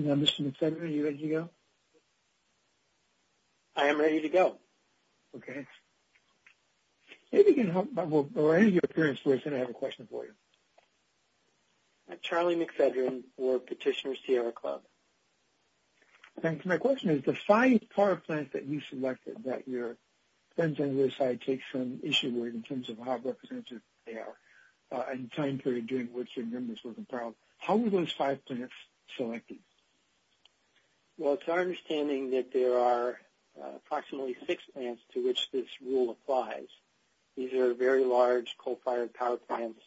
Mr. McFedrin, are you ready to go? I am ready to go. Okay. Maybe you can help, or any of your parents, they're going to have a question for you. Charlie McFedrin for Petitioner Sierra Club. Thanks. My question is the five power plants that you selected that your friends on the other side take some issue with in terms of how representative they are and the time period during which your members were compiled, how were those five plants selected? Well, it's our understanding that there are approximately six plants to which this rule applies. These are very large coal-fired power plants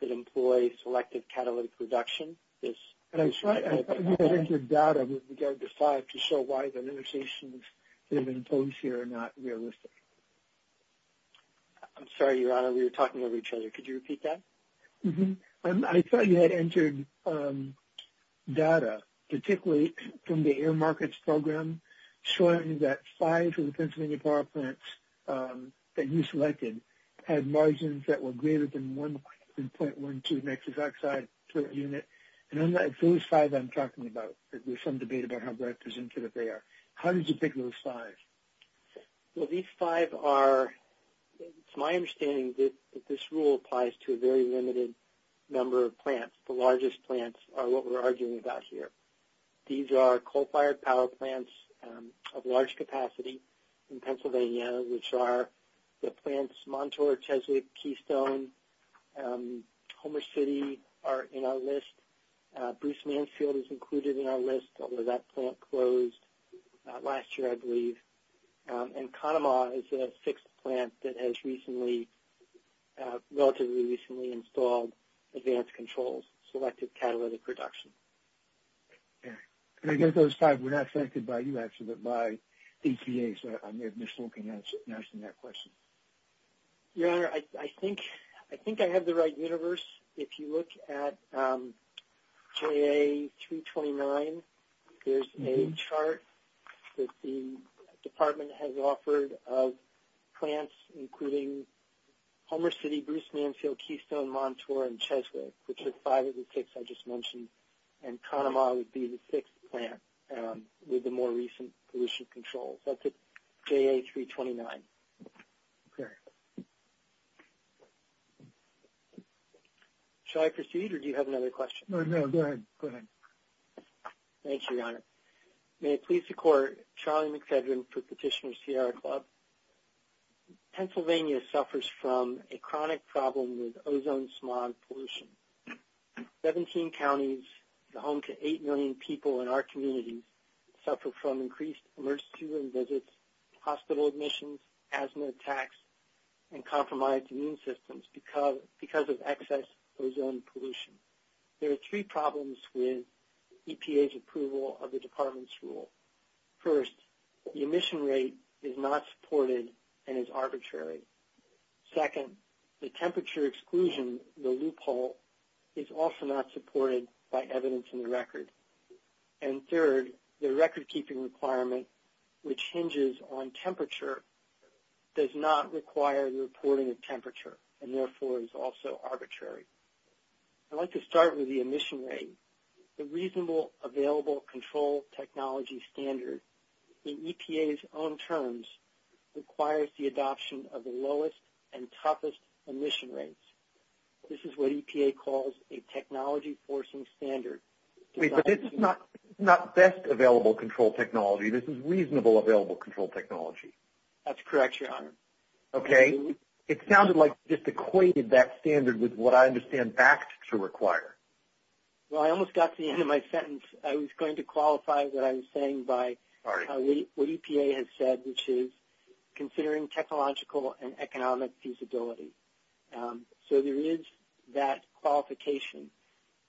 that employ selective catalytic reduction. And I thought you had entered data with regard to five to show why the negotiations that have been imposed here are not realistic. I'm sorry, Your Honor, we were talking over each other. Could you repeat that? I thought you had entered data, particularly from the Air Markets Program, showing that five of the Pennsylvania power plants that you selected had margins that were greater than .12 nexus oxide per unit. And those five I'm talking about, there's some debate about how representative they are. How did you pick those five? Well, these five are, to my understanding, this rule applies to a very limited number of plants. The largest plants are what we're arguing about here. These are coal-fired power plants of large capacity in Pennsylvania, which are the plants Montour, Cheswick, Keystone, Homer City are in our list. Bruce Mansfield is included in our list, although that plant closed last year, I believe. And Kahnemaw is a sixth plant that has recently, relatively recently, installed advanced controls, selective catalytic reduction. And again, those five were not selected by you, actually, but by EPA, so I may have missed looking at that question. Your Honor, I think I have the right universe. If you look at JA329, there's a chart that the department has offered of plants, including Homer City, Bruce Mansfield, Keystone, Montour, and Cheswick, which are five of the six I just mentioned. And Kahnemaw would be the sixth plant with the more recent pollution controls. That's at JA329. Okay. Shall I proceed, or do you have another question? No, no. Go ahead. Go ahead. Thanks, Your Honor. May it please the Court, Charlie McFedrin for Petitioner Sierra Club. Pennsylvania suffers from a chronic problem with ozone smog pollution. Seventeen counties, the home to 8 million people in our communities, suffer from increased emergency room visits, hospital admissions, asthma attacks, and compromised immune systems because of excess ozone pollution. There are three problems with EPA's approval of the department's rule. First, the emission rate is not supported and is arbitrary. Second, the temperature exclusion, the loophole, is also not supported by evidence in the record. And third, the record-keeping requirement, which hinges on temperature, does not require the reporting of temperature, and therefore is also arbitrary. I'd like to start with the emission rate. The reasonable available control technology standard, in EPA's own terms, requires the adoption of the lowest and toughest emission rates. This is what EPA calls a technology-forcing standard. Wait, but it's not best available control technology. This is reasonable available control technology. That's correct, Your Honor. Okay. It sounded like you just equated that standard with what I understand BACT to require. Well, I almost got to the end of my sentence. I was going to qualify what I was saying by what EPA has said, which is considering technological and economic feasibility. So there is that qualification.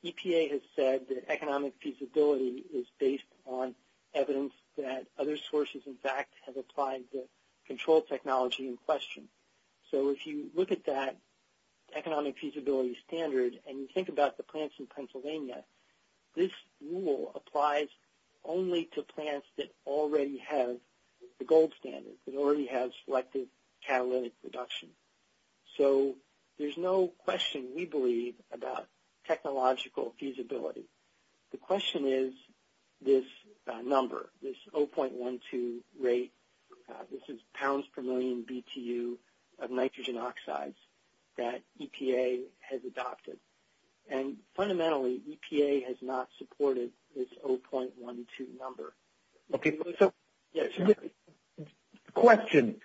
is based on evidence that other sources, in fact, have applied the control technology in question. So if you look at that economic feasibility standard and you think about the plants in Pennsylvania, this rule applies only to plants that already have the gold standard, that already have selective catalytic reduction. So there's no question, we believe, about technological feasibility. The question is this number, this 0.12 rate. This is pounds per million BTU of nitrogen oxides that EPA has adopted. And fundamentally, EPA has not supported this 0.12 number. Okay. Yes, Your Honor. Question.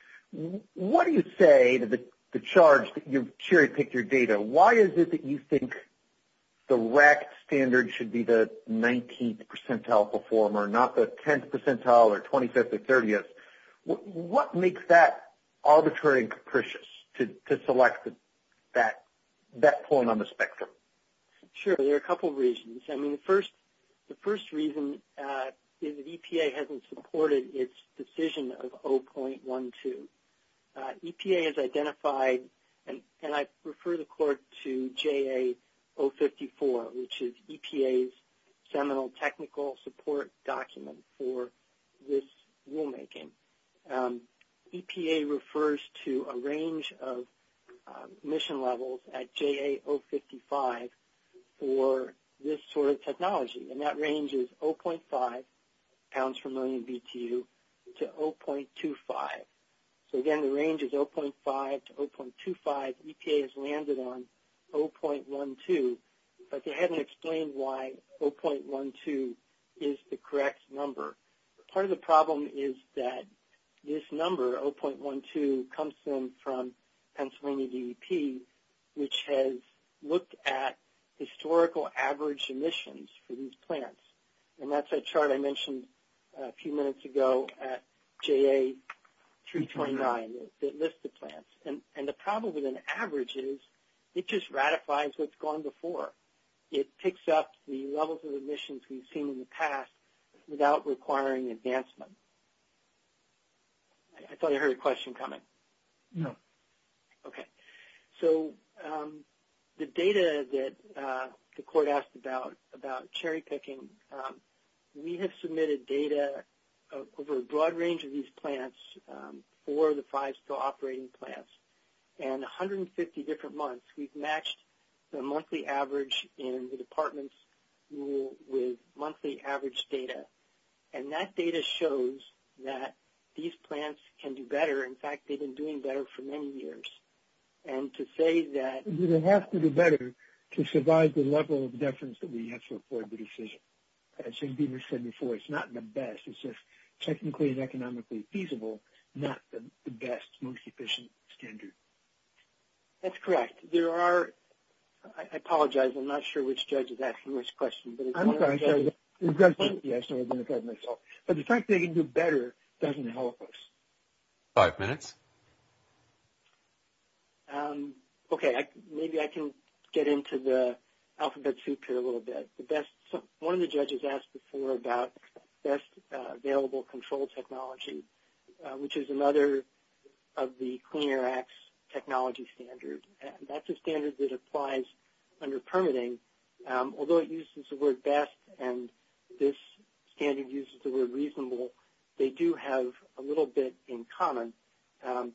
What do you say to the charge that you've cherry-picked your data? Why is it that you think the RAC standard should be the 19th percentile performer, not the 10th percentile or 25th or 30th? What makes that arbitrary and capricious to select that point on the spectrum? Sure. There are a couple reasons. I mean, the first reason is that EPA hasn't supported its decision of 0.12. EPA has identified, and I refer the Court to JA 054, which is EPA's seminal technical support document for this rulemaking. EPA refers to a range of emission levels at JA 055 for this sort of technology, and that range is 0.5 pounds per million BTU to 0.25. So again, the range is 0.5 to 0.25. EPA has landed on 0.12, but they haven't explained why 0.12 is the correct number. Part of the problem is that this number, 0.12, comes in from Pennsylvania DEP, which has looked at historical average emissions for these plants, and that's a chart I mentioned a few minutes ago at JA 329 that lists the plants. And the problem with an average is it just ratifies what's gone before. It picks up the levels of emissions we've seen in the past without requiring advancement. I thought I heard a question coming. No. Okay. So the data that the Court asked about cherry-picking, we have submitted data over a broad range of these plants, four of the five still operating plants, and 150 different months. We've matched the monthly average in the department's rule with monthly average data, and that data shows that these plants can do better. In fact, they've been doing better for many years. And to say that they have to do better to survive the level of deference that we have to afford the decision. As Jim Beamer said before, it's not the best. It's just technically and economically feasible, not the best, most efficient standard. That's correct. There are – I apologize. I'm not sure which judge is asking which question. I'm sorry. Yes, I was going to ask myself. But the fact they can do better doesn't help us. Five minutes. Okay. Maybe I can get into the alphabet soup here a little bit. One of the judges asked before about best available control technology, which is another of the Clean Air Act's technology standards. That's a standard that applies under permitting. Although it uses the word best and this standard uses the word reasonable, they do have a little bit in common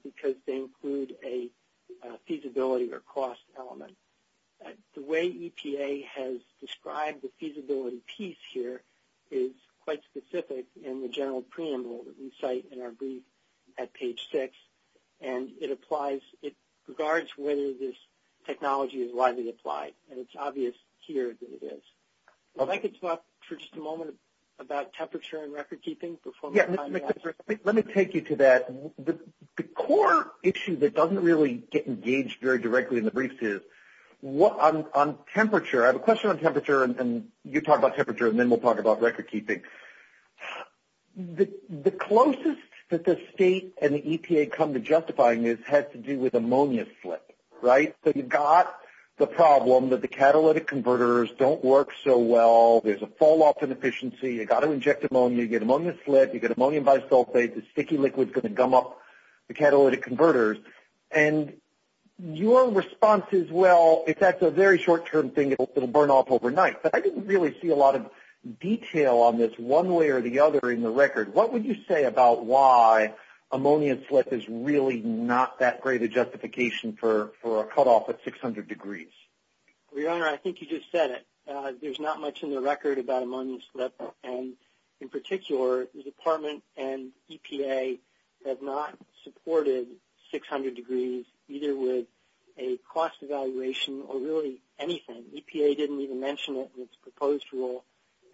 because they include a feasibility or cost element. The way EPA has described the feasibility piece here is quite specific in the general preamble that we cite in our brief at page 6. And it applies – it regards whether this technology is widely applied. And it's obvious here that it is. If I could talk for just a moment about temperature and record keeping. Let me take you to that. The core issue that doesn't really get engaged very directly in the briefs is on temperature. I have a question on temperature and you talk about temperature and then we'll talk about record keeping. The closest that the state and the EPA come to justifying this has to do with ammonia slip. Right? So you've got the problem that the catalytic converters don't work so well. There's a fall off in efficiency. You've got to inject ammonia. You get ammonia slip. You get ammonium bisulfate. The sticky liquid's going to gum up the catalytic converters. And your response is, well, if that's a very short-term thing, it'll burn off overnight. But I didn't really see a lot of detail on this one way or the other in the record. What would you say about why ammonia slip is really not that great a justification for a cutoff at 600 degrees? Well, Your Honor, I think you just said it. There's not much in the record about ammonia slip. And in particular, the Department and EPA have not supported 600 degrees, either with a cost evaluation or really anything. EPA didn't even mention it in its proposed rule.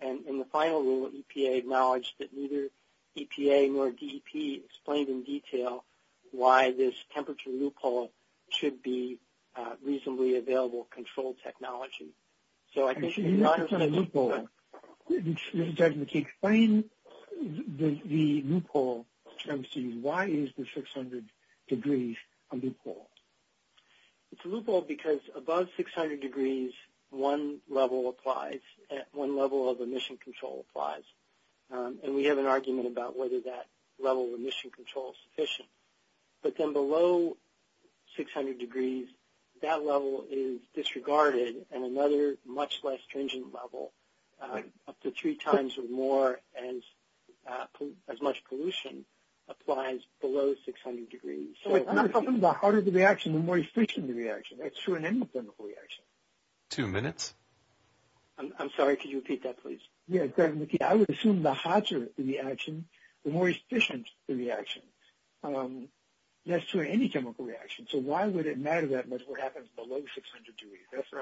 And in the final rule, EPA acknowledged that neither EPA nor DEP explained in detail why this temperature loophole should be reasonably available control technology. So I think it's not a loophole. Mr. Judgeman, can you explain the loophole? Why is the 600 degrees a loophole? It's a loophole because above 600 degrees, one level applies. One level of emission control applies. And we have an argument about whether that level of emission control is sufficient. But then below 600 degrees, that level is disregarded, and another much less stringent level, up to three times or more, as much pollution applies below 600 degrees. The harder the reaction, the more efficient the reaction. That's true in any chemical reaction. Two minutes. I'm sorry, could you repeat that, please? That's true in any chemical reaction. So why would it matter that much what happens below 600 degrees? Yes, Your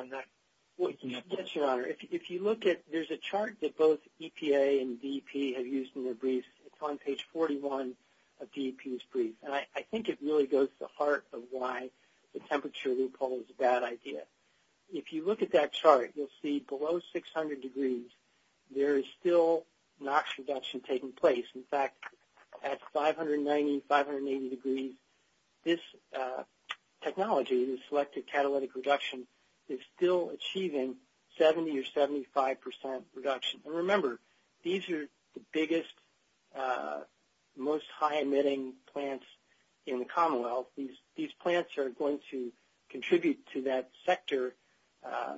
Honor. There's a chart that both EPA and DEP have used in their briefs. It's on page 41 of DEP's brief. And I think it really goes to the heart of why the temperature loophole is a bad idea. If you look at that chart, you'll see below 600 degrees, there is still NOx reduction taking place. In fact, at 590, 580 degrees, this technology, this selective catalytic reduction, is still achieving 70 or 75% reduction. And remember, these are the biggest, most high-emitting plants in the Commonwealth. These plants are going to contribute to that sector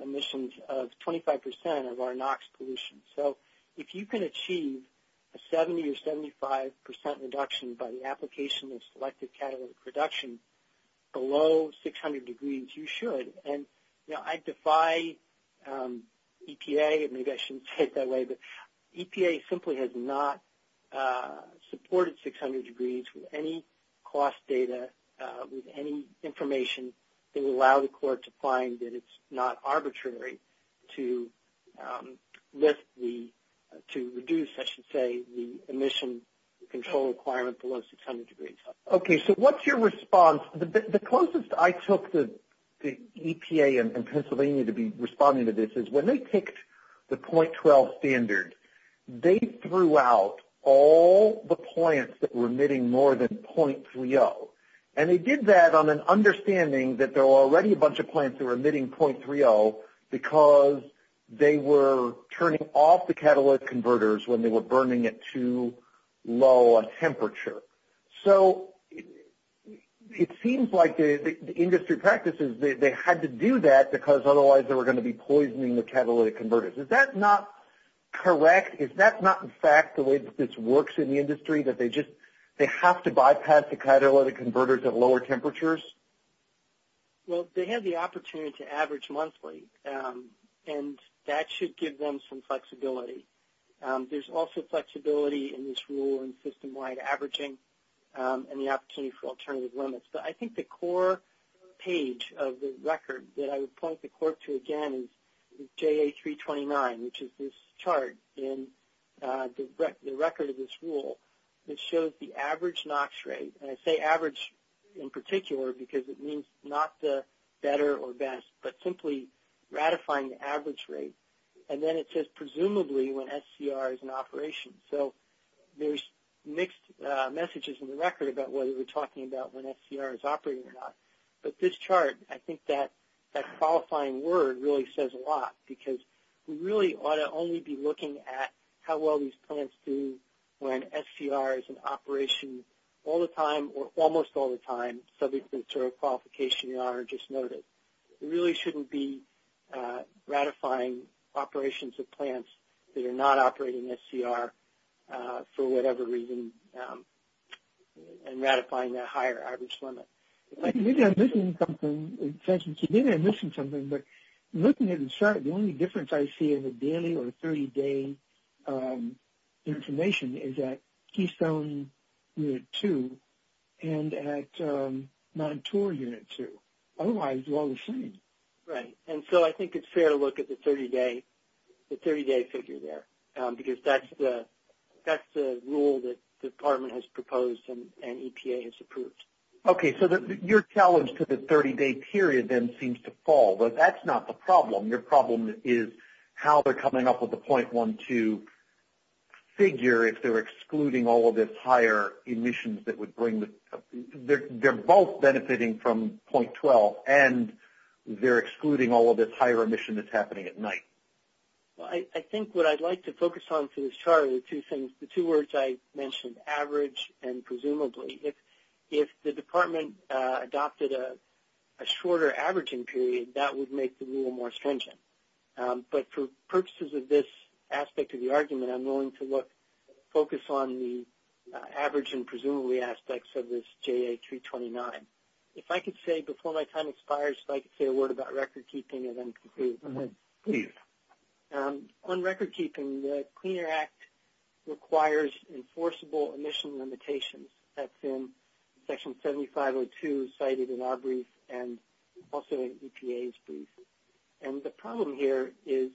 emissions of 25% of our NOx pollution. So if you can achieve a 70 or 75% reduction by the application of selective catalytic reduction below 600 degrees, you should. And I defy EPA, maybe I shouldn't say it that way, but EPA simply has not supported 600 degrees with any cost data, with any information that would allow the court to find that it's not to reduce, I should say, the emission control requirement below 600 degrees. Okay, so what's your response? The closest I took the EPA and Pennsylvania to be responding to this is when they picked the 0.12 standard, they threw out all the plants that were emitting more than 0.30. And they did that on an understanding that there were already a bunch of plants that were emitting more than 0.30, and they stopped the catalytic converters when they were burning at too low a temperature. So it seems like the industry practices, they had to do that because otherwise they were going to be poisoning the catalytic converters. Is that not correct? Is that not in fact the way that this works in the industry, that they just, they have to bypass the catalytic converters at lower temperatures? Well, they have the opportunity to average monthly, and that should give them some flexibility. There's also flexibility in this rule in system-wide averaging and the opportunity for alternative limits. But I think the core page of the record that I would point the court to again is JA329, which is this chart in the record of this rule that shows the average NOx rate. And I say average in particular because it means not the better or best, but simply ratifying the average rate. And then it says presumably when SCR is in operation. So there's mixed messages in the record about whether we're talking about when SCR is operating or not. But this chart, I think that qualifying word really says a lot, because we really ought to only be looking at how well these plants do when they're in operation. So we shouldn't be all the time or almost all the time subject to a qualification you just noted. We really shouldn't be ratifying operations of plants that are not operating SCR for whatever reason and ratifying that higher average limit. Maybe I'm missing something, but looking at the chart, the only difference I see in the daily or 30-day information is at Keystone Unit 2 and at Montour Unit 2. Otherwise, they're all the same. Right. And so I think it's fair to look at the 30-day figure there, because that's the rule that the Department has proposed and EPA has approved. Okay. So your challenge to the 30-day period then seems to fall. But that's not the problem. Your problem is how they're coming up with a 0.12 figure, if they're excluding all of this higher emissions that would bring the – they're both benefiting from 0.12, and they're excluding all of this higher emission that's happening at night. Well, I think what I'd like to focus on for this chart are the two things, the two words I mentioned, average and presumably. If the Department adopted a shorter averaging period, that would make the rule more stringent. But for purposes of this aspect of the argument, I'm willing to focus on the average and presumably aspects of this JA329. If I could say before my time expires, if I could say a word about recordkeeping and then conclude. Please. On recordkeeping, the Clean Air Act requires enforceable emission limitations. That's in Section 7502 cited in our brief and also in EPA's brief. And the problem here is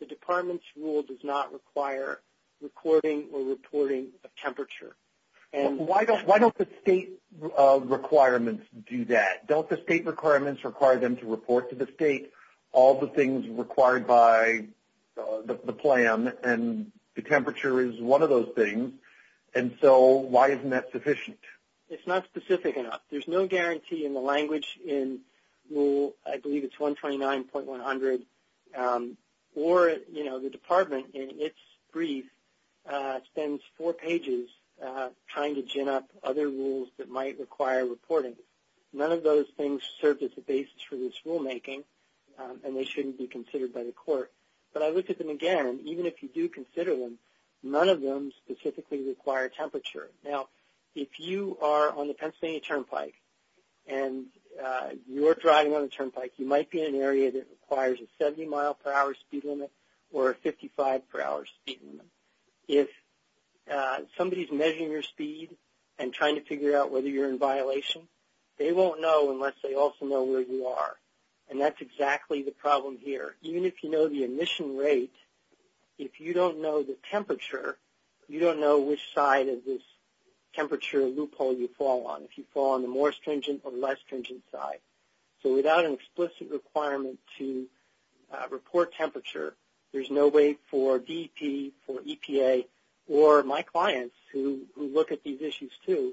the Department's rule does not require recording or reporting of temperature. Why don't the state requirements do that? Don't the state requirements require them to report to the state all the things required by the plan, and the temperature is one of those things? And so why isn't that sufficient? It's not specific enough. There's no guarantee in the language in Rule, I believe it's 129.100, or the Department in its brief spends four pages trying to gin up other rules that might require reporting. None of those things serve as a basis for this rulemaking, and they shouldn't be considered by the court. But I looked at them again. Even if you do consider them, none of them specifically require temperature. Now, if you are on the Pennsylvania Turnpike and you're driving on the Turnpike, you might be in an area that requires a 70-mile-per-hour speed limit or a 55-per-hour speed limit. If somebody's measuring your speed and trying to figure out whether you're in violation, they won't know unless they also know where you are, and that's exactly the problem here. Even if you know the emission rate, if you don't know the temperature, you don't know which side of this temperature loophole you fall on, if you fall on the more stringent or less stringent side. So without an explicit requirement to report temperature, there's no way for DEP, for EPA, or my clients who look at these issues too,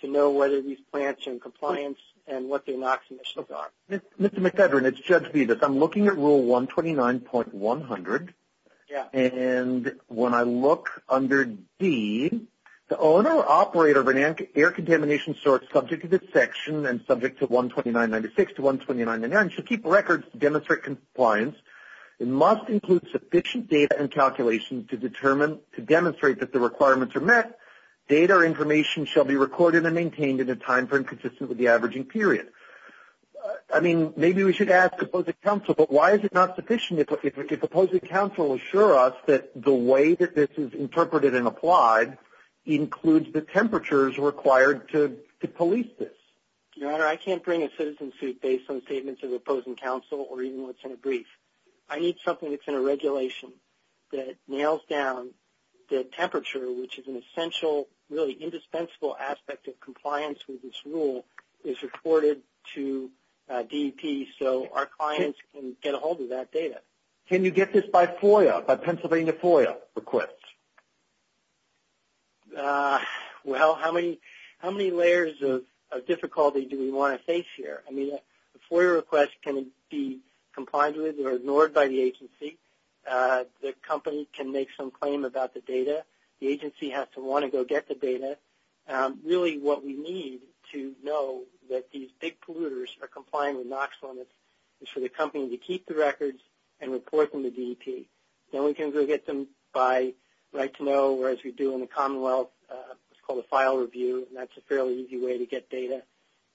to know whether these plants are in compliance and what their NOx emissions are. Mr. McEdrin, it's Judge Vidas. I'm looking at Rule 129.100. And when I look under D, the owner or operator of an air contamination source subject to this section and subject to 129.96 to 129.99 should keep records to demonstrate compliance. It must include sufficient data and calculations to demonstrate that the requirements are met. Data or information shall be recorded and maintained in a time frame consistent with the averaging period. I mean, maybe we should ask Opposing Counsel, but why is it not sufficient if Opposing Counsel will assure us that the way that this is interpreted and applied includes the temperatures required to police this? Your Honor, I can't bring a citizen suit based on statements of Opposing Counsel or even what's in a brief. I need something that's in a regulation that nails down the temperature, which is an essential, really indispensable aspect of compliance with this rule, is reported to DEP so our clients can get a hold of that data. Can you get this by FOIA, by Pennsylvania FOIA request? Well, how many layers of difficulty do we want to face here? I mean, a FOIA request can be complied with or ignored by the agency. The company can make some claim about the data. The agency has to want to go get the data. Really what we need to know that these big polluters are complying with NOx limits is for the company to keep the records and report them to DEP. Then we can go get them by right to know, whereas we do in the Commonwealth what's called a file review, and that's a fairly easy way to get data.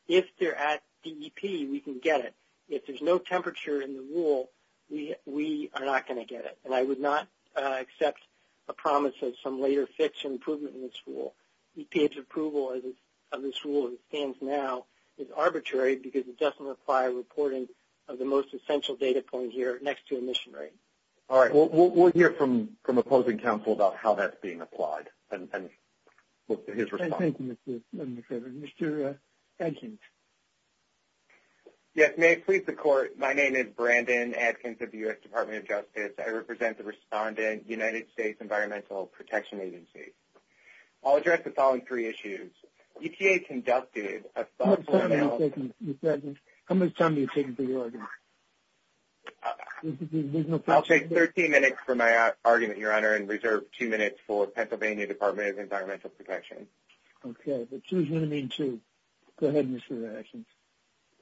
If they're at DEP, we can get it. If there's no temperature in the rule, we are not going to get it. And I would not accept a promise of some later fix or improvement in this rule. DEP's approval of this rule as it stands now is arbitrary because it doesn't require reporting of the most essential data point here next to emission rate. All right. We'll hear from opposing counsel about how that's being applied and look to his response. Thank you, Mr. Chairman. Mr. Adkins. Yes, may it please the Court. My name is Brandon Adkins of the U.S. Department of Justice. I represent the respondent United States Environmental Protection Agency. I'll address the following three issues. EPA conducted a thoughtful analysis. How much time are you taking for your argument? I'll take 13 minutes for my argument, Your Honor, and reserve two minutes for Pennsylvania Department of Environmental Protection. Okay, but choose one of these two. Go ahead, Mr. Adkins.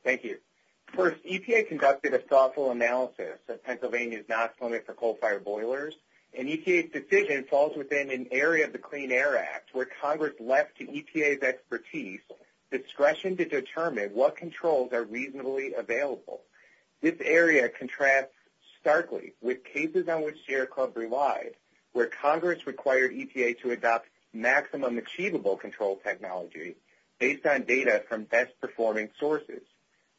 Thank you. First, EPA conducted a thoughtful analysis of Pennsylvania's NOx limit for coal-fired boilers, and EPA's decision falls within an area of the Clean Air Act where Congress left to EPA's expertise discretion to determine what controls are reasonably available. This area contrasts starkly with cases on which Sierra Club relied, where Congress required EPA to adopt maximum achievable control technology based on data from best-performing sources.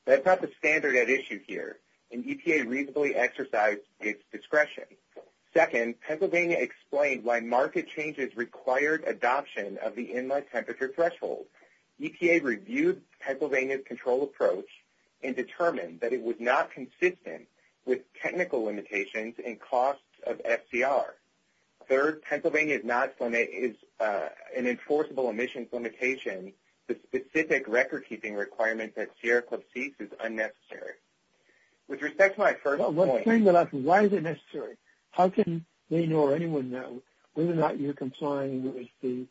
That's not the standard at issue here, and EPA reasonably exercised its discretion. Second, Pennsylvania explained why market changes required adoption of the inlet temperature threshold. EPA reviewed Pennsylvania's control approach and determined that it was not consistent with technical limitations and costs of FCR. Third, Pennsylvania's NOx limit is an enforceable emissions limitation, the specific record-keeping requirement that Sierra Club seeks is unnecessary. With respect to my first point- Well, let's bring that up. Why is it necessary? How can they know or anyone know whether or not you're complying with the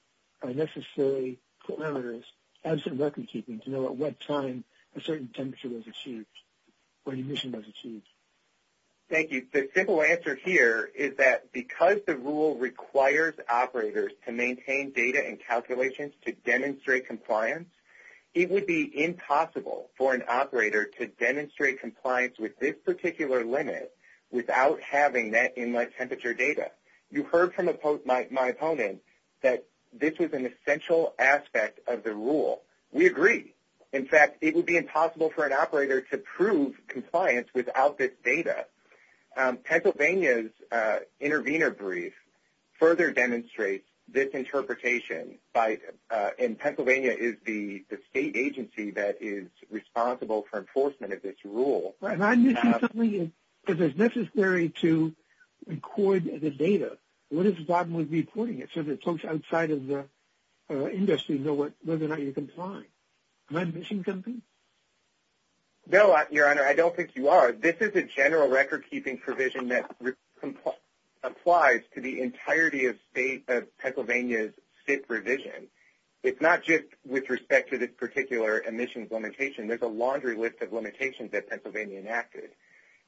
necessary parameters, absent record-keeping, to know at what time a certain temperature was achieved or emission was achieved? Thank you. The simple answer here is that because the rule requires operators to maintain data and calculations to demonstrate compliance, it would be impossible for an operator to demonstrate compliance with this particular limit without having that inlet temperature data. You heard from my opponent that this was an essential aspect of the rule. We agree. In fact, it would be impossible for an operator to prove compliance without this data. Pennsylvania's intervener brief further demonstrates this interpretation, and Pennsylvania is the state agency that is responsible for enforcement of this rule. Am I missing something? If it's necessary to record the data, what is the problem with reporting it so that folks outside of the industry know whether or not you're complying? Am I missing something? No, Your Honor, I don't think you are. This is a general record-keeping provision that applies to the entirety of Pennsylvania's SIT revision. It's not just with respect to this particular emissions limitation. There's a laundry list of limitations that Pennsylvania enacted,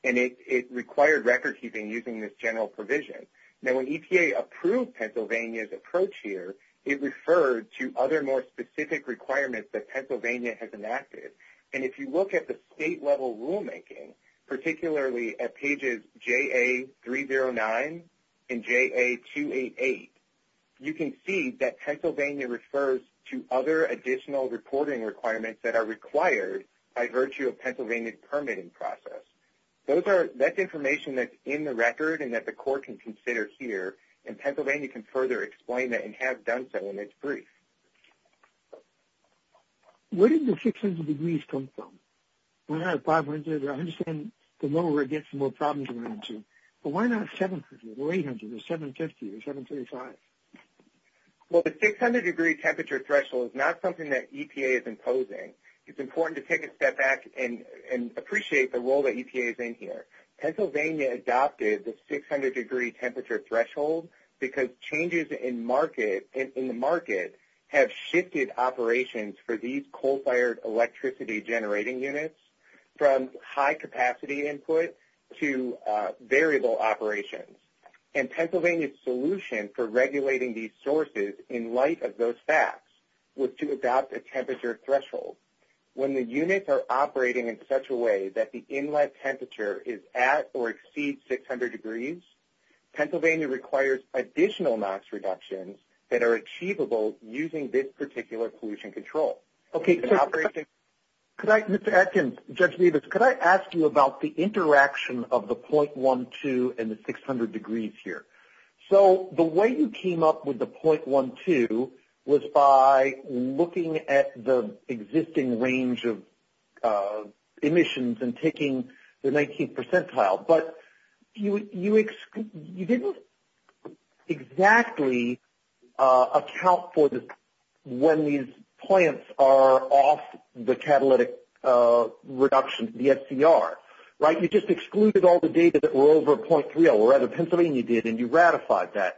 and it required record-keeping using this general provision. Now, when EPA approved Pennsylvania's approach here, it referred to other more specific requirements that Pennsylvania has enacted. And if you look at the state-level rulemaking, particularly at pages JA309 and JA288, you can see that Pennsylvania refers to other additional reporting requirements that are required by virtue of Pennsylvania's permitting process. That's information that's in the record and that the Court can consider here, and Pennsylvania can further explain that and have done so in its brief. Where did the 600 degrees come from? When I had 500, I understand the lower it gets, the more problems it runs into. But why not 750 or 800 or 750 or 735? Well, the 600-degree temperature threshold is not something that EPA is imposing. It's important to take a step back and appreciate the role that EPA is in here. Pennsylvania adopted the 600-degree temperature threshold because changes in the market have shifted operations for these coal-fired electricity-generating units from high-capacity input to variable operations. And Pennsylvania's solution for regulating these sources in light of those facts was to adopt a temperature threshold. When the units are operating in such a way that the inlet temperature is at or exceeds 600 degrees, Pennsylvania requires additional max reductions that are achievable using this particular pollution control. Mr. Atkins, Judge Davis, could I ask you about the interaction of the 0.12 and the 600 degrees here? So the way you came up with the 0.12 was by looking at the existing range of emissions and taking the 19th percentile, but you didn't exactly account for this when these plants are off the catalytic reduction, the SCR, right? You just excluded all the data that were over 0.3, or rather Pennsylvania did, and you ratified that.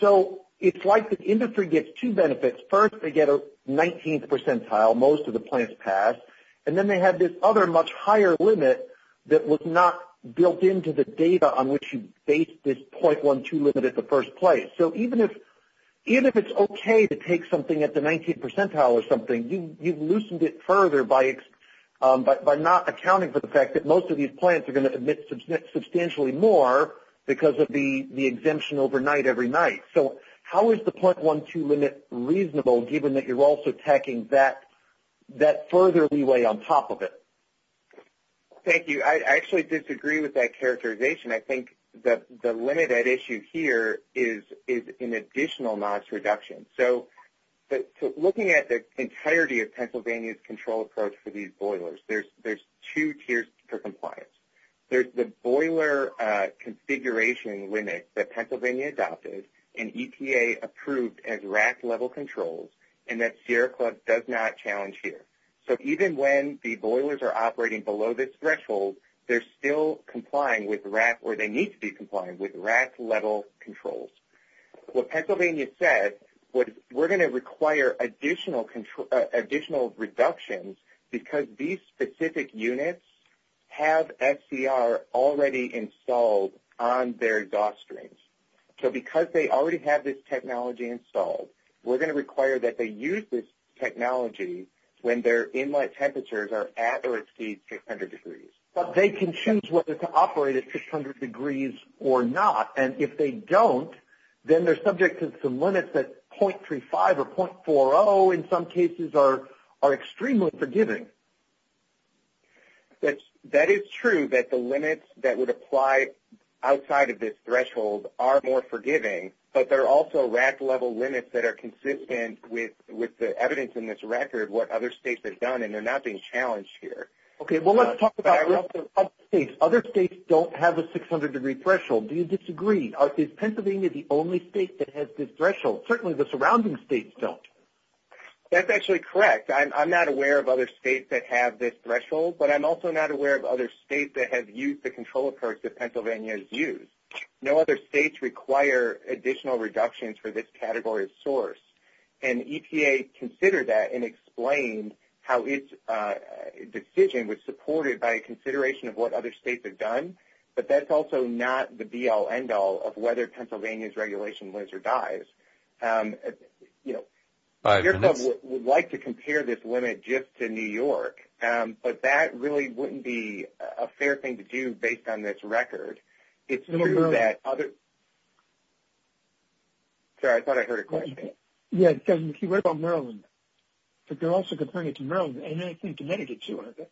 So it's like the industry gets two benefits. First, they get a 19th percentile, most of the plants pass, and then they have this other much higher limit that was not built into the data on which you based this 0.12 limit in the first place. So even if it's okay to take something at the 19th percentile or something, you've loosened it further by not accounting for the fact that most of these plants are going to emit substantially more because of the exemption overnight every night. So how is the 0.12 limit reasonable given that you're also tacking that further leeway on top of it? Thank you. I actually disagree with that characterization. I think the limit at issue here is an additional NOx reduction. So looking at the entirety of Pennsylvania's control approach for these boilers, there's two tiers for compliance. There's the boiler configuration limit that Pennsylvania adopted and EPA approved as RAC level controls, and that Sierra Club does not challenge here. So even when the boilers are operating below this threshold, they're still complying with RAC, or they need to be complying with RAC level controls. What Pennsylvania said was we're going to require additional reductions because these specific units have SCR already installed on their drawstrings. So because they already have this technology installed, we're going to require that they use this technology when their inlet temperatures are at or exceed 600 degrees. But they can choose whether to operate at 600 degrees or not, and if they don't, then they're subject to some limits that 0.35 or 0.40 in some cases are extremely forgiving. That is true that the limits that would apply outside of this threshold are more forgiving, but there are also RAC level limits that are consistent with the evidence in this record what other states have done, and they're not being challenged here. Okay, well, let's talk about other states. Other states don't have a 600-degree threshold. Do you disagree? Is Pennsylvania the only state that has this threshold? Certainly the surrounding states don't. That's actually correct. I'm not aware of other states that have this threshold, but I'm also not aware of other states that have used the control approach that Pennsylvania has used. No other states require additional reductions for this category of source, and EPA considered that and explained how its decision was supported by a consideration of what other states have done, but that's also not the be-all, end-all of whether Pennsylvania's regulation lives or dies. Five minutes. The Bureau would like to compare this limit just to New York, but that really wouldn't be a fair thing to do based on this record. It's true that other – sorry, I thought I heard a question. Yeah, Kevin, if you read about Maryland, but they're also comparing it to Maryland, and then I think Connecticut too, aren't they?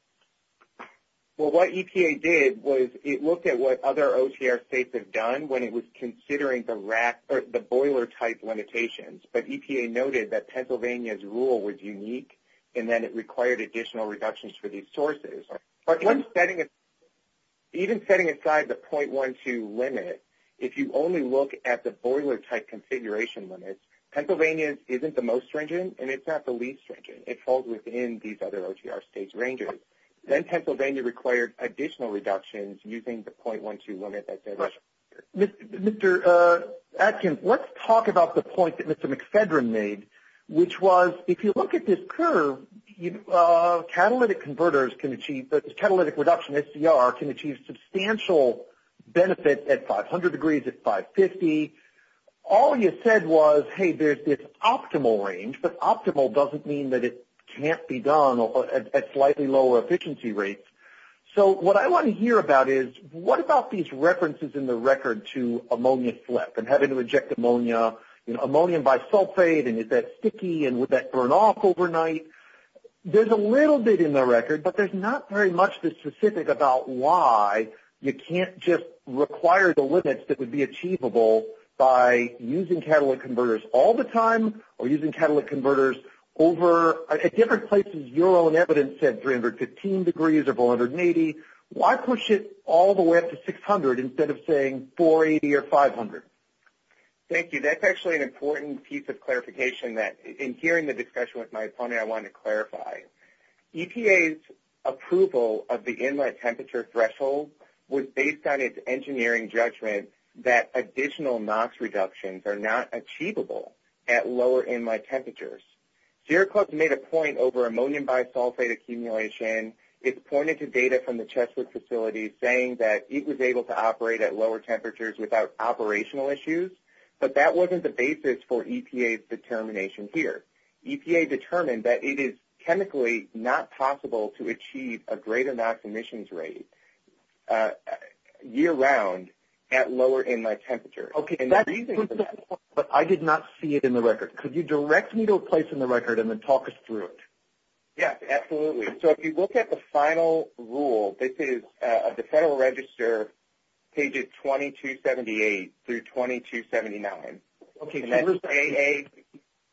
Well, what EPA did was it looked at what other OTR states have done when it was considering the boiler-type limitations, but EPA noted that Pennsylvania's rule was unique, and then it required additional reductions for these sources. But even setting aside the .12 limit, if you only look at the boiler-type configuration limits, Pennsylvania's isn't the most stringent, and it's not the least stringent. It falls within these other OTR states' ranges. Then Pennsylvania required additional reductions using the .12 limit. Mr. Atkins, let's talk about the point that Mr. McFedrin made, which was if you look at this curve, catalytic converters can achieve – catalytic reduction, SCR, can achieve substantial benefit at 500 degrees, at 550. All you said was, hey, there's this optimal range, but optimal doesn't mean that it can't be done at slightly lower efficiency rates. So what I want to hear about is what about these references in the record to ammonia slip and having to eject ammonia, you know, ammonium bisulfate, and is that sticky, and would that burn off overnight? There's a little bit in the record, but there's not very much that's specific about why you can't just require the limits that would be achievable by using catalytic converters all the time or using catalytic converters over – at different places, your own evidence said 315 degrees or 480. Why push it all the way up to 600 instead of saying 480 or 500? Thank you. That's actually an important piece of clarification that, in hearing the discussion with my opponent, I want to clarify. EPA's approval of the inlet temperature threshold was based on its engineering judgment that additional NOx reductions are not achievable at lower inlet temperatures. Sierra Club made a point over ammonium bisulfate accumulation. It's pointed to data from the Cheswick facility saying that it was able to operate at lower temperatures without operational issues, but that wasn't the basis for EPA's determination here. EPA determined that it is chemically not possible to achieve a greater NOx emissions rate year-round at lower inlet temperatures. Okay, but I did not see it in the record. Could you direct me to a place in the record and then talk us through it? Yes, absolutely. So if you look at the final rule, this is of the Federal Register, pages 2278 through 2279. Okay. And that's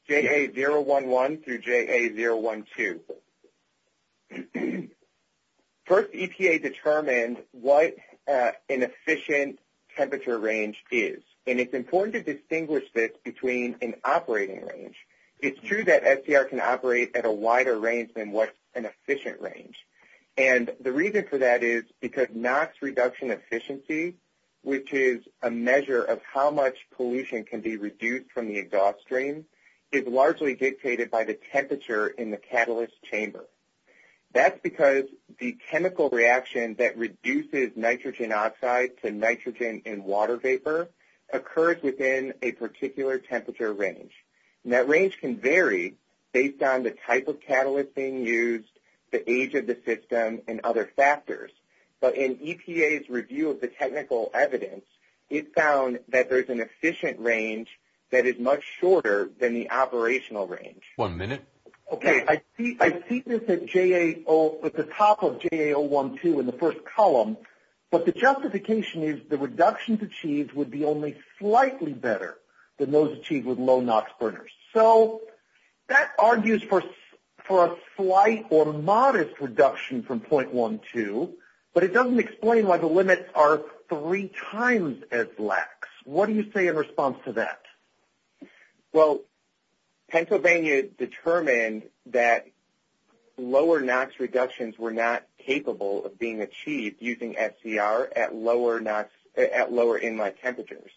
JA011 through JA012. First, EPA determined what an efficient temperature range is. And it's important to distinguish this between an operating range. It's true that SDR can operate at a wider range than what's an efficient range. And the reason for that is because NOx reduction efficiency, which is a measure of how much pollution can be reduced from the exhaust stream, is largely dictated by the temperature in the catalyst chamber. That's because the chemical reaction that reduces nitrogen oxide to nitrogen in water vapor occurs within a particular temperature range. And that range can vary based on the type of catalyst being used, the age of the system, and other factors. But in EPA's review of the technical evidence, it found that there's an efficient range that is much shorter than the operational range. One minute. Okay. I see this at the top of JA012 in the first column, but the justification is the reductions achieved would be only slightly better than those achieved with low NOx burners. So that argues for a slight or modest reduction from 0.12, but it doesn't explain why the limits are three times as lax. What do you say in response to that? Well, Pennsylvania determined that lower NOx reductions were not capable of being achieved using SCR at lower inlet temperatures.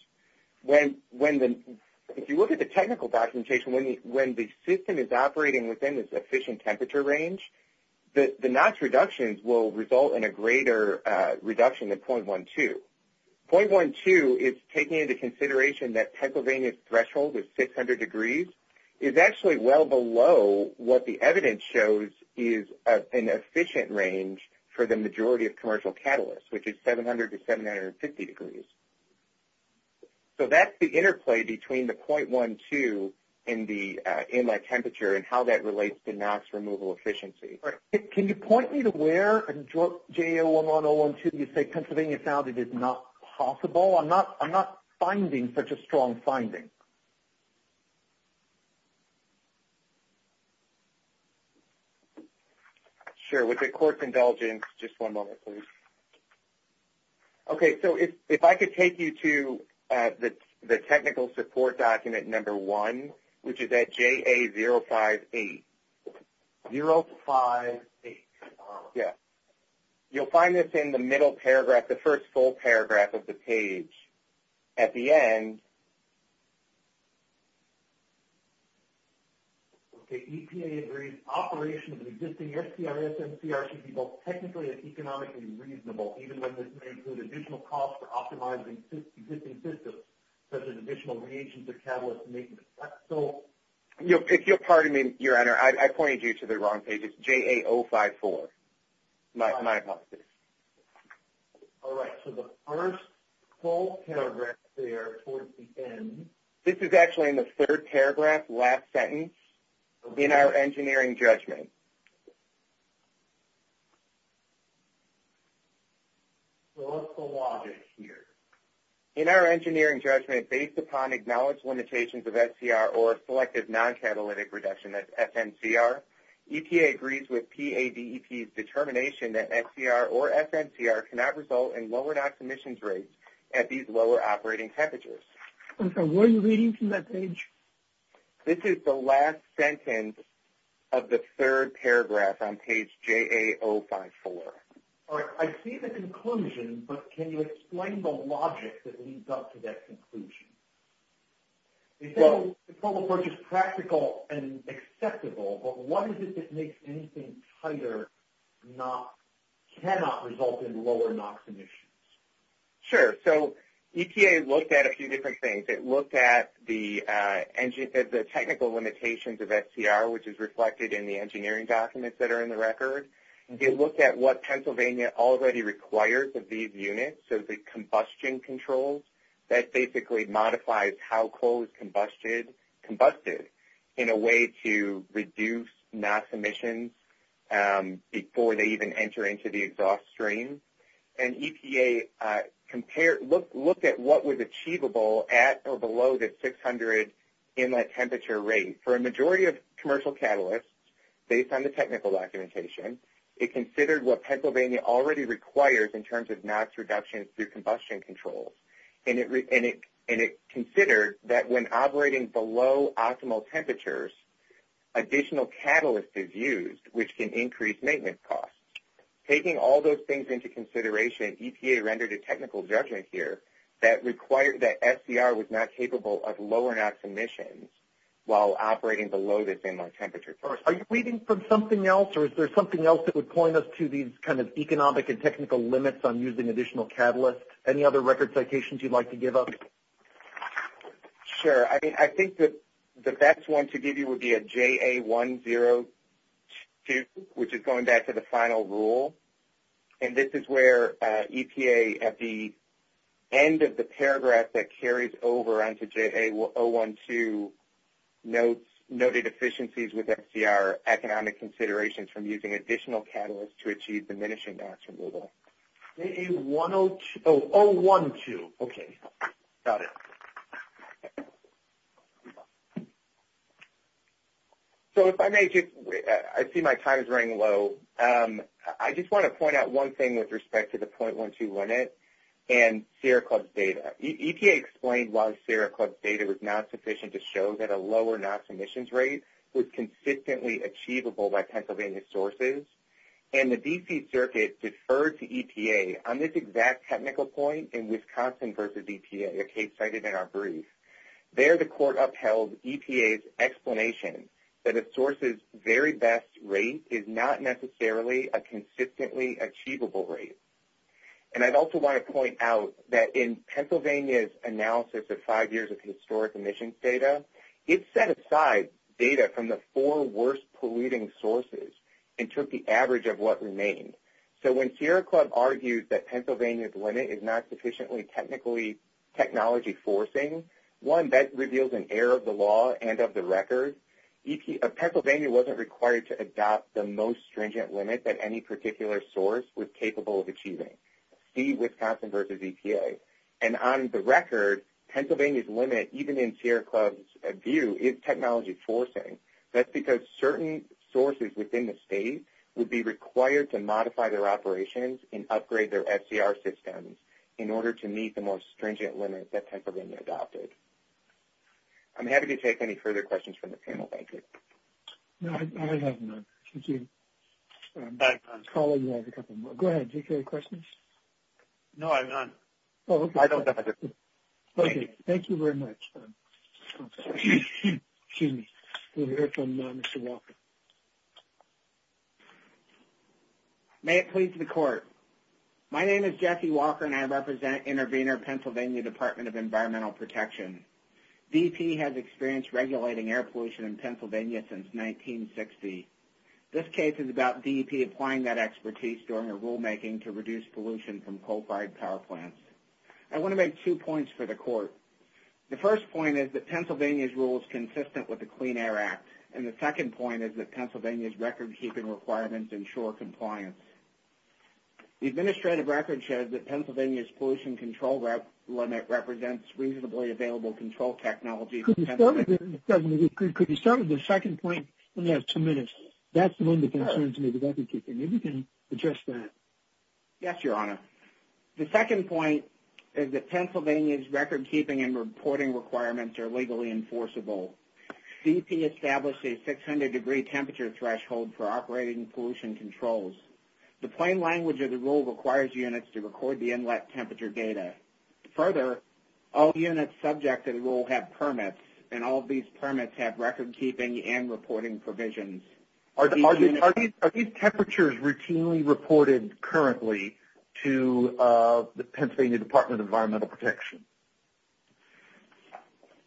If you look at the technical documentation, when the system is operating within its efficient temperature range, the NOx reductions will result in a greater reduction than 0.12. 0.12 is taking into consideration that Pennsylvania's threshold is 600 degrees. It's actually well below what the evidence shows is an efficient range for the majority of commercial catalysts, which is 700 to 750 degrees. So that's the interplay between the 0.12 in the inlet temperature and how that relates to NOx removal efficiency. Can you point me to where in JA11012 you say Pennsylvania found it is not possible? I'm not finding such a strong finding. Sure. With the court's indulgence, just one moment, please. Okay, so if I could take you to the technical support document number one, which is at JA058. 058. Yeah. You'll find this in the middle paragraph, the first full paragraph of the page. At the end. Okay, EPA agrees, operations of existing SCRs and CRs should be both technically and economically reasonable, even when this may include additional costs for optimizing existing systems, such as additional reagents or catalysts. If you'll pardon me, Your Honor, I pointed you to the wrong page. It's JA054, my apologies. All right, so the first full paragraph there towards the end. This is actually in the third paragraph, last sentence, in our engineering judgment. So what's the logic here? In our engineering judgment, based upon acknowledged limitations of SCR or selective non-catalytic reduction, that's FNCR, EPA agrees with PADEP's determination that SCR or FNCR cannot result in lower NOx emissions rates at these lower operating temperatures. I'm sorry, what are you reading from that page? This is the last sentence of the third paragraph on page JA054. All right, I see the conclusion, but can you explain the logic that leads up to that conclusion? It says the protocol approach is practical and acceptable, but what is it that makes anything tighter cannot result in lower NOx emissions? Sure, so EPA looked at a few different things. It looked at the technical limitations of SCR, which is reflected in the engineering documents that are in the record. It looked at what Pennsylvania already requires of these units, so the combustion controls. That basically modifies how coal is combusted in a way to reduce NOx emissions before they even enter into the exhaust stream. And EPA looked at what was achievable at or below the 600 inlet temperature rate. For a majority of commercial catalysts, based on the technical documentation, it considered what Pennsylvania already requires in terms of NOx reduction through combustion controls. And it considered that when operating below optimal temperatures, additional catalyst is used, which can increase maintenance costs. Taking all those things into consideration, EPA rendered a technical judgment here that required that SCR was not capable of lowering NOx emissions while operating below the same inlet temperature. Are you reading from something else, or is there something else that would point us to these kind of economic and technical limits on using additional catalysts? Any other record citations you'd like to give us? Sure, I think the best one to give you would be a JA102, which is going back to the final rule. And this is where EPA, at the end of the paragraph that carries over onto JA012, notes noted efficiencies with SCR economic considerations from using additional catalysts to achieve diminishing NOx removal. JA102. Oh, 012. Okay, got it. So if I may just – I see my time is running low. I just want to point out one thing with respect to the 0.12 limit and Sierra Club's data. EPA explained why Sierra Club's data was not sufficient to show that a lower NOx emissions rate was consistently achievable by Pennsylvania sources. And the D.C. Circuit deferred to EPA on this exact technical point in Wisconsin versus EPA, a case cited in our brief. There the court upheld EPA's explanation that a source's very best rate is not necessarily a consistently achievable rate. And I'd also want to point out that in Pennsylvania's analysis of five years of historic emissions data, it set aside data from the four worst polluting sources and took the average of what remained. So when Sierra Club argued that Pennsylvania's limit is not sufficiently technically technology-forcing, one, that reveals an error of the law and of the record. Pennsylvania wasn't required to adopt the most stringent limit that any particular source was capable of achieving. See Wisconsin versus EPA. And on the record, Pennsylvania's limit, even in Sierra Club's view, is technology-forcing. That's because certain sources within the state would be required to modify their operations and upgrade their FCR systems in order to meet the more stringent limits that Pennsylvania adopted. I'm happy to take any further questions from the panel. Thank you. No, I have none. Thank you. Paul, you have a couple more. Go ahead. Did you have any questions? No, I have none. Oh, okay. I don't have a question. Thank you. Okay. Thank you very much. Okay. Excuse me. We'll hear from Mr. Walker. May it please the Court. My name is Jeffy Walker, and I represent Intervenor Pennsylvania Department of Environmental Protection. DEP has experienced regulating air pollution in Pennsylvania since 1960. This case is about DEP applying that expertise during a rulemaking to reduce pollution from coal-fired power plants. I want to make two points for the Court. The first point is that Pennsylvania's rule is consistent with the Clean Air Act, and the second point is that Pennsylvania's record-keeping requirements ensure compliance. The administrative record shows that Pennsylvania's pollution control limit represents reasonably available control technology for Pennsylvania. Could you start with the second point? Let me have two minutes. That's one of the concerns in the record-keeping. Maybe you can address that. Yes, Your Honor. The second point is that Pennsylvania's record-keeping and reporting requirements are legally enforceable. DEP established a 600-degree temperature threshold for operating pollution controls. The plain language of the rule requires units to record the inlet temperature data. Further, all units subject to the rule have permits, and all of these permits have record-keeping and reporting provisions. Are these temperatures routinely reported currently to the Pennsylvania Department of Environmental Protection?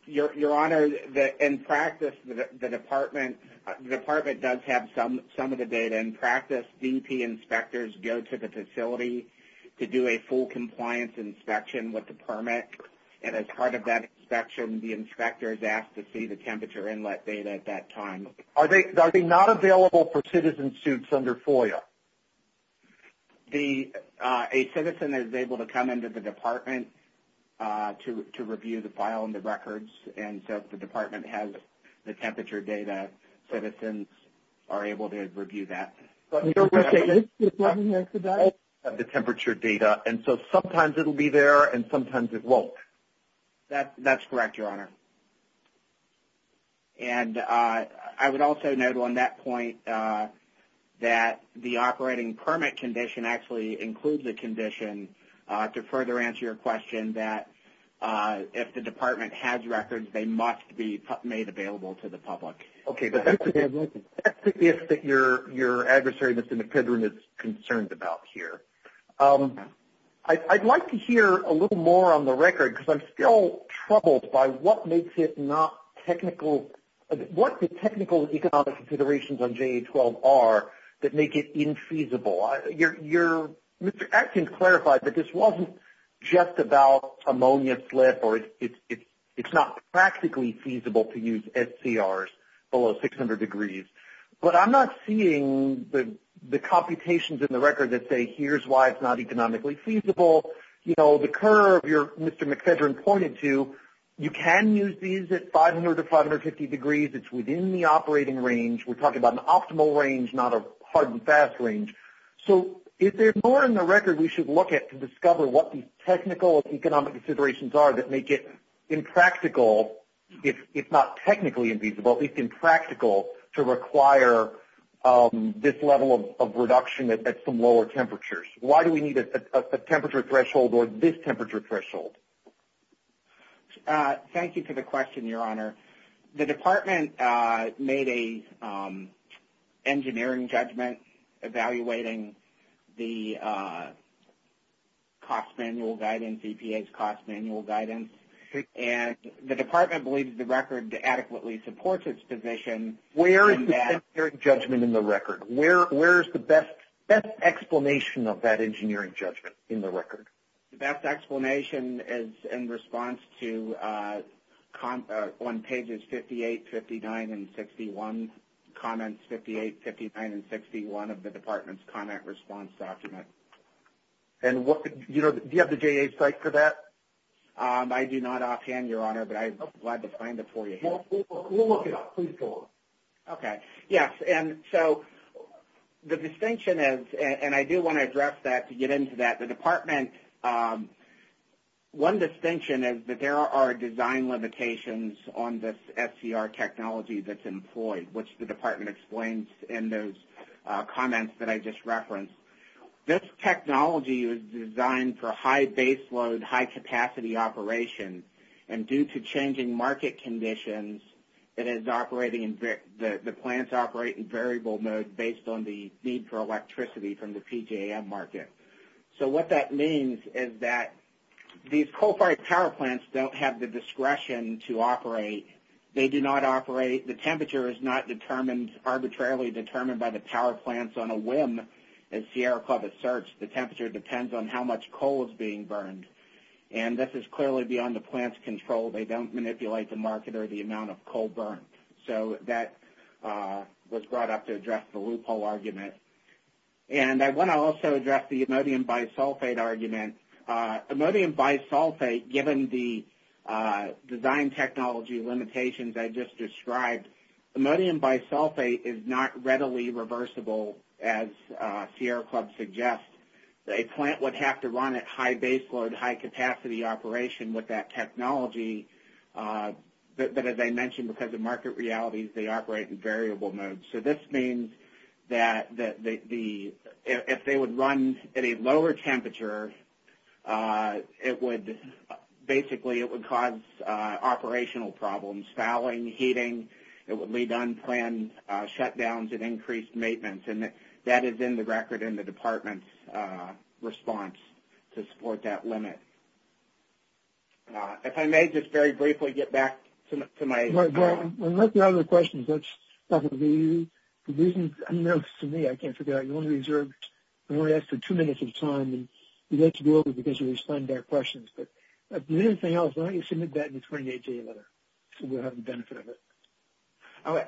Your Honor, in practice, the Department does have some of the data. In practice, DEP inspectors go to the facility to do a full compliance inspection with the permit, and as part of that inspection, the inspector is asked to see the temperature inlet data at that time. Are they not available for citizen suits under FOIA? A citizen is able to come into the department to review the file and the records, and so if the department has the temperature data, citizens are able to review that. But you're going to have to look at all of the temperature data, and so sometimes it will be there and sometimes it won't. That's correct, Your Honor. And I would also note on that point that the operating permit condition actually includes a condition to further answer your question that if the department has records, they must be made available to the public. Okay, but that's the gift that your adversary, Mr. McClendon, is concerned about here. I'd like to hear a little more on the record because I'm still troubled by what makes it not technical, what the technical economic considerations on JA-12 are that make it infeasible. Mr. Atkins clarified that this wasn't just about ammonia slip, or it's not practically feasible to use SCRs below 600 degrees, but I'm not seeing the computations in the record that say here's why it's not economically feasible. You know, the curve you're, Mr. McClendon, pointed to, you can use these at 500 to 550 degrees. It's within the operating range. We're talking about an optimal range, not a hard and fast range. So is there more in the record we should look at to discover what these technical economic considerations are that make it impractical, if not technically infeasible, at least impractical, to require this level of reduction at some lower temperatures? Why do we need a temperature threshold or this temperature threshold? Thank you for the question, Your Honor. The Department made an engineering judgment evaluating the cost manual guidance, EPA's cost manual guidance, and the Department believes the record adequately supports its position in that. Where is the engineering judgment in the record? Where is the best explanation of that engineering judgment in the record? The best explanation is in response to on pages 58, 59, and 61, comments 58, 59, and 61 of the Department's comment response document. And do you have the JA site for that? I do not offhand, Your Honor, but I'm glad to find it for you. We'll look it up. Please go on. Okay. Yes, and so the distinction is, and I do want to address that to get into that. The Department, one distinction is that there are design limitations on this SCR technology that's employed, which the Department explains in those comments that I just referenced. This technology is designed for high base load, high capacity operation, and due to changing market conditions, it is operating in variable mode based on the need for electricity from the PJM market. So what that means is that these coal-fired power plants don't have the discretion to operate. They do not operate. The temperature is not arbitrarily determined by the power plants on a whim. As Sierra Club asserts, the temperature depends on how much coal is being burned. And this is clearly beyond the plant's control. They don't manipulate the market or the amount of coal burned. So that was brought up to address the loophole argument. And I want to also address the imodium bisulfate argument. Imodium bisulfate, given the design technology limitations I just described, imodium bisulfate is not readily reversible, as Sierra Club suggests. A plant would have to run at high base load, high capacity operation with that technology, but as I mentioned, because of market realities, they operate in variable mode. So this means that if they would run at a lower temperature, it would, basically, it would cause operational problems, fouling, heating. It would lead to unplanned shutdowns and increased maintenance. And that is in the record in the department's response to support that limit. If I may just very briefly get back to my... Well, unless you have other questions, that's probably the reason. To me, I can't figure out, you only have two minutes of time, and you have to go over it because you're responding to our questions. But if there's anything else, why don't you submit that in the 28-J letter, so we'll have the benefit of it.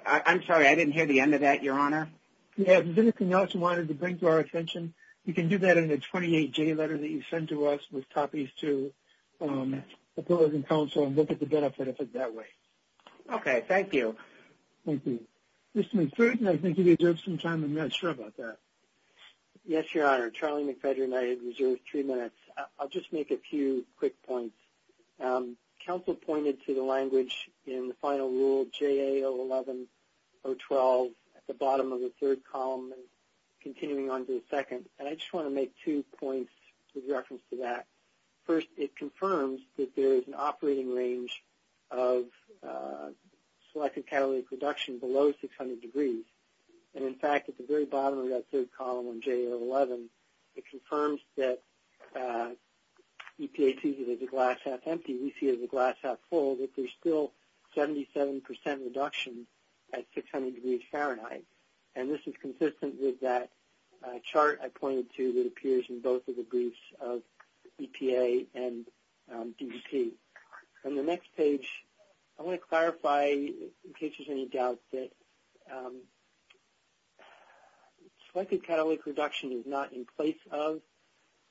I'm sorry, I didn't hear the end of that, Your Honor. If you have anything else you wanted to bring to our attention, you can do that in the 28-J letter that you sent to us with copies to opposing counsel and look at the benefit of it that way. Okay, thank you. Thank you. Mr. McPherson, I think you've reserved some time. I'm not sure about that. Yes, Your Honor. Charlie McPherson and I have reserved three minutes. I'll just make a few quick points. Counsel pointed to the language in the final rule, JA011, 012, at the bottom of the third column and continuing on to the second. And I just want to make two points with reference to that. First, it confirms that there is an operating range of selected catalytic reduction below 600 degrees. And, in fact, at the very bottom of that third column on JA011, it confirms that EPA sees it as a glass-half-empty, we see it as a glass-half-full, but there's still 77% reduction at 600 degrees Fahrenheit. And this is consistent with that chart I pointed to that appears in both of the briefs of EPA and DGP. On the next page, I want to clarify, in case there's any doubt, that selected catalytic reduction is not in place of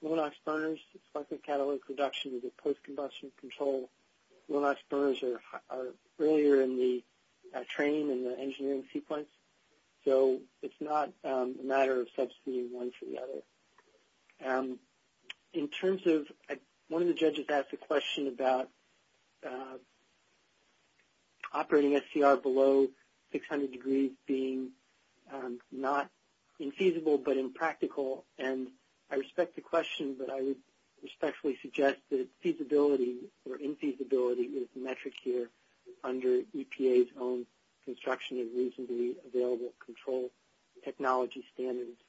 low NOx burners. Selected catalytic reduction is a post-combustion control. Low NOx burners are earlier in the training and the engineering sequence, so it's not a matter of substituting one for the other. In terms of one of the judges asked a question about operating SCR below 600 degrees being not infeasible but impractical, and I respect the question, but I would respectfully suggest that feasibility or infeasibility is the metric here under EPA's own construction and reasonably available control technology standards.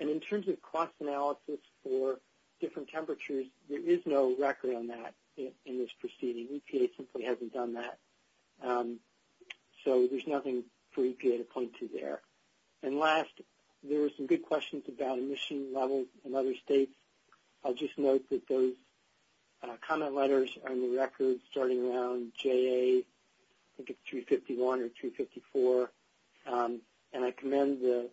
And in terms of cost analysis for different temperatures, there is no record on that in this proceeding. EPA simply hasn't done that, so there's nothing for EPA to point to there. And last, there were some good questions about emission levels in other states. I'll just note that those comment letters are in the record starting around JA, I think it's 351 or 354, and I commend the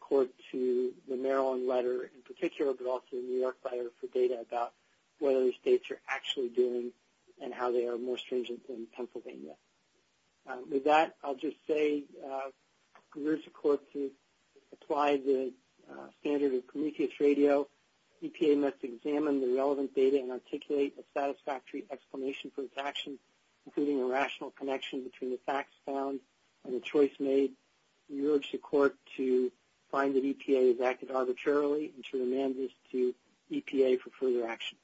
court to the Maryland letter in particular, but also the New York letter for data about what other states are actually doing and how they are more stringent than Pennsylvania. With that, I'll just say we urge the court to apply the standard of Prometheus radio. EPA must examine the relevant data and articulate a satisfactory explanation for its actions, including a rational connection between the facts found and the choice made. We urge the court to find that EPA has acted arbitrarily and to remand this to EPA for further action.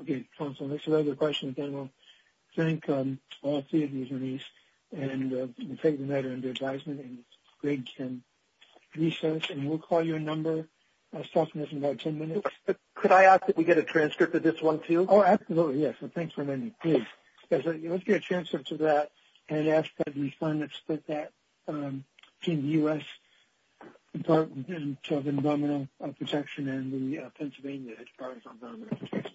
Okay, counsel, there's another question. Again, we'll thank all three of you, Denise, and we'll take the matter under advisement. And Greg can recess, and we'll call you a number. I was talking to this in about 10 minutes. Could I ask that we get a transcript of this one, too? Oh, absolutely, yes. Well, thanks for letting me. Please. Let's get a transcript of that and ask that we finance that in the U.S. Department of Environmental Protection and then the Pennsylvania Department of Environmental Protection.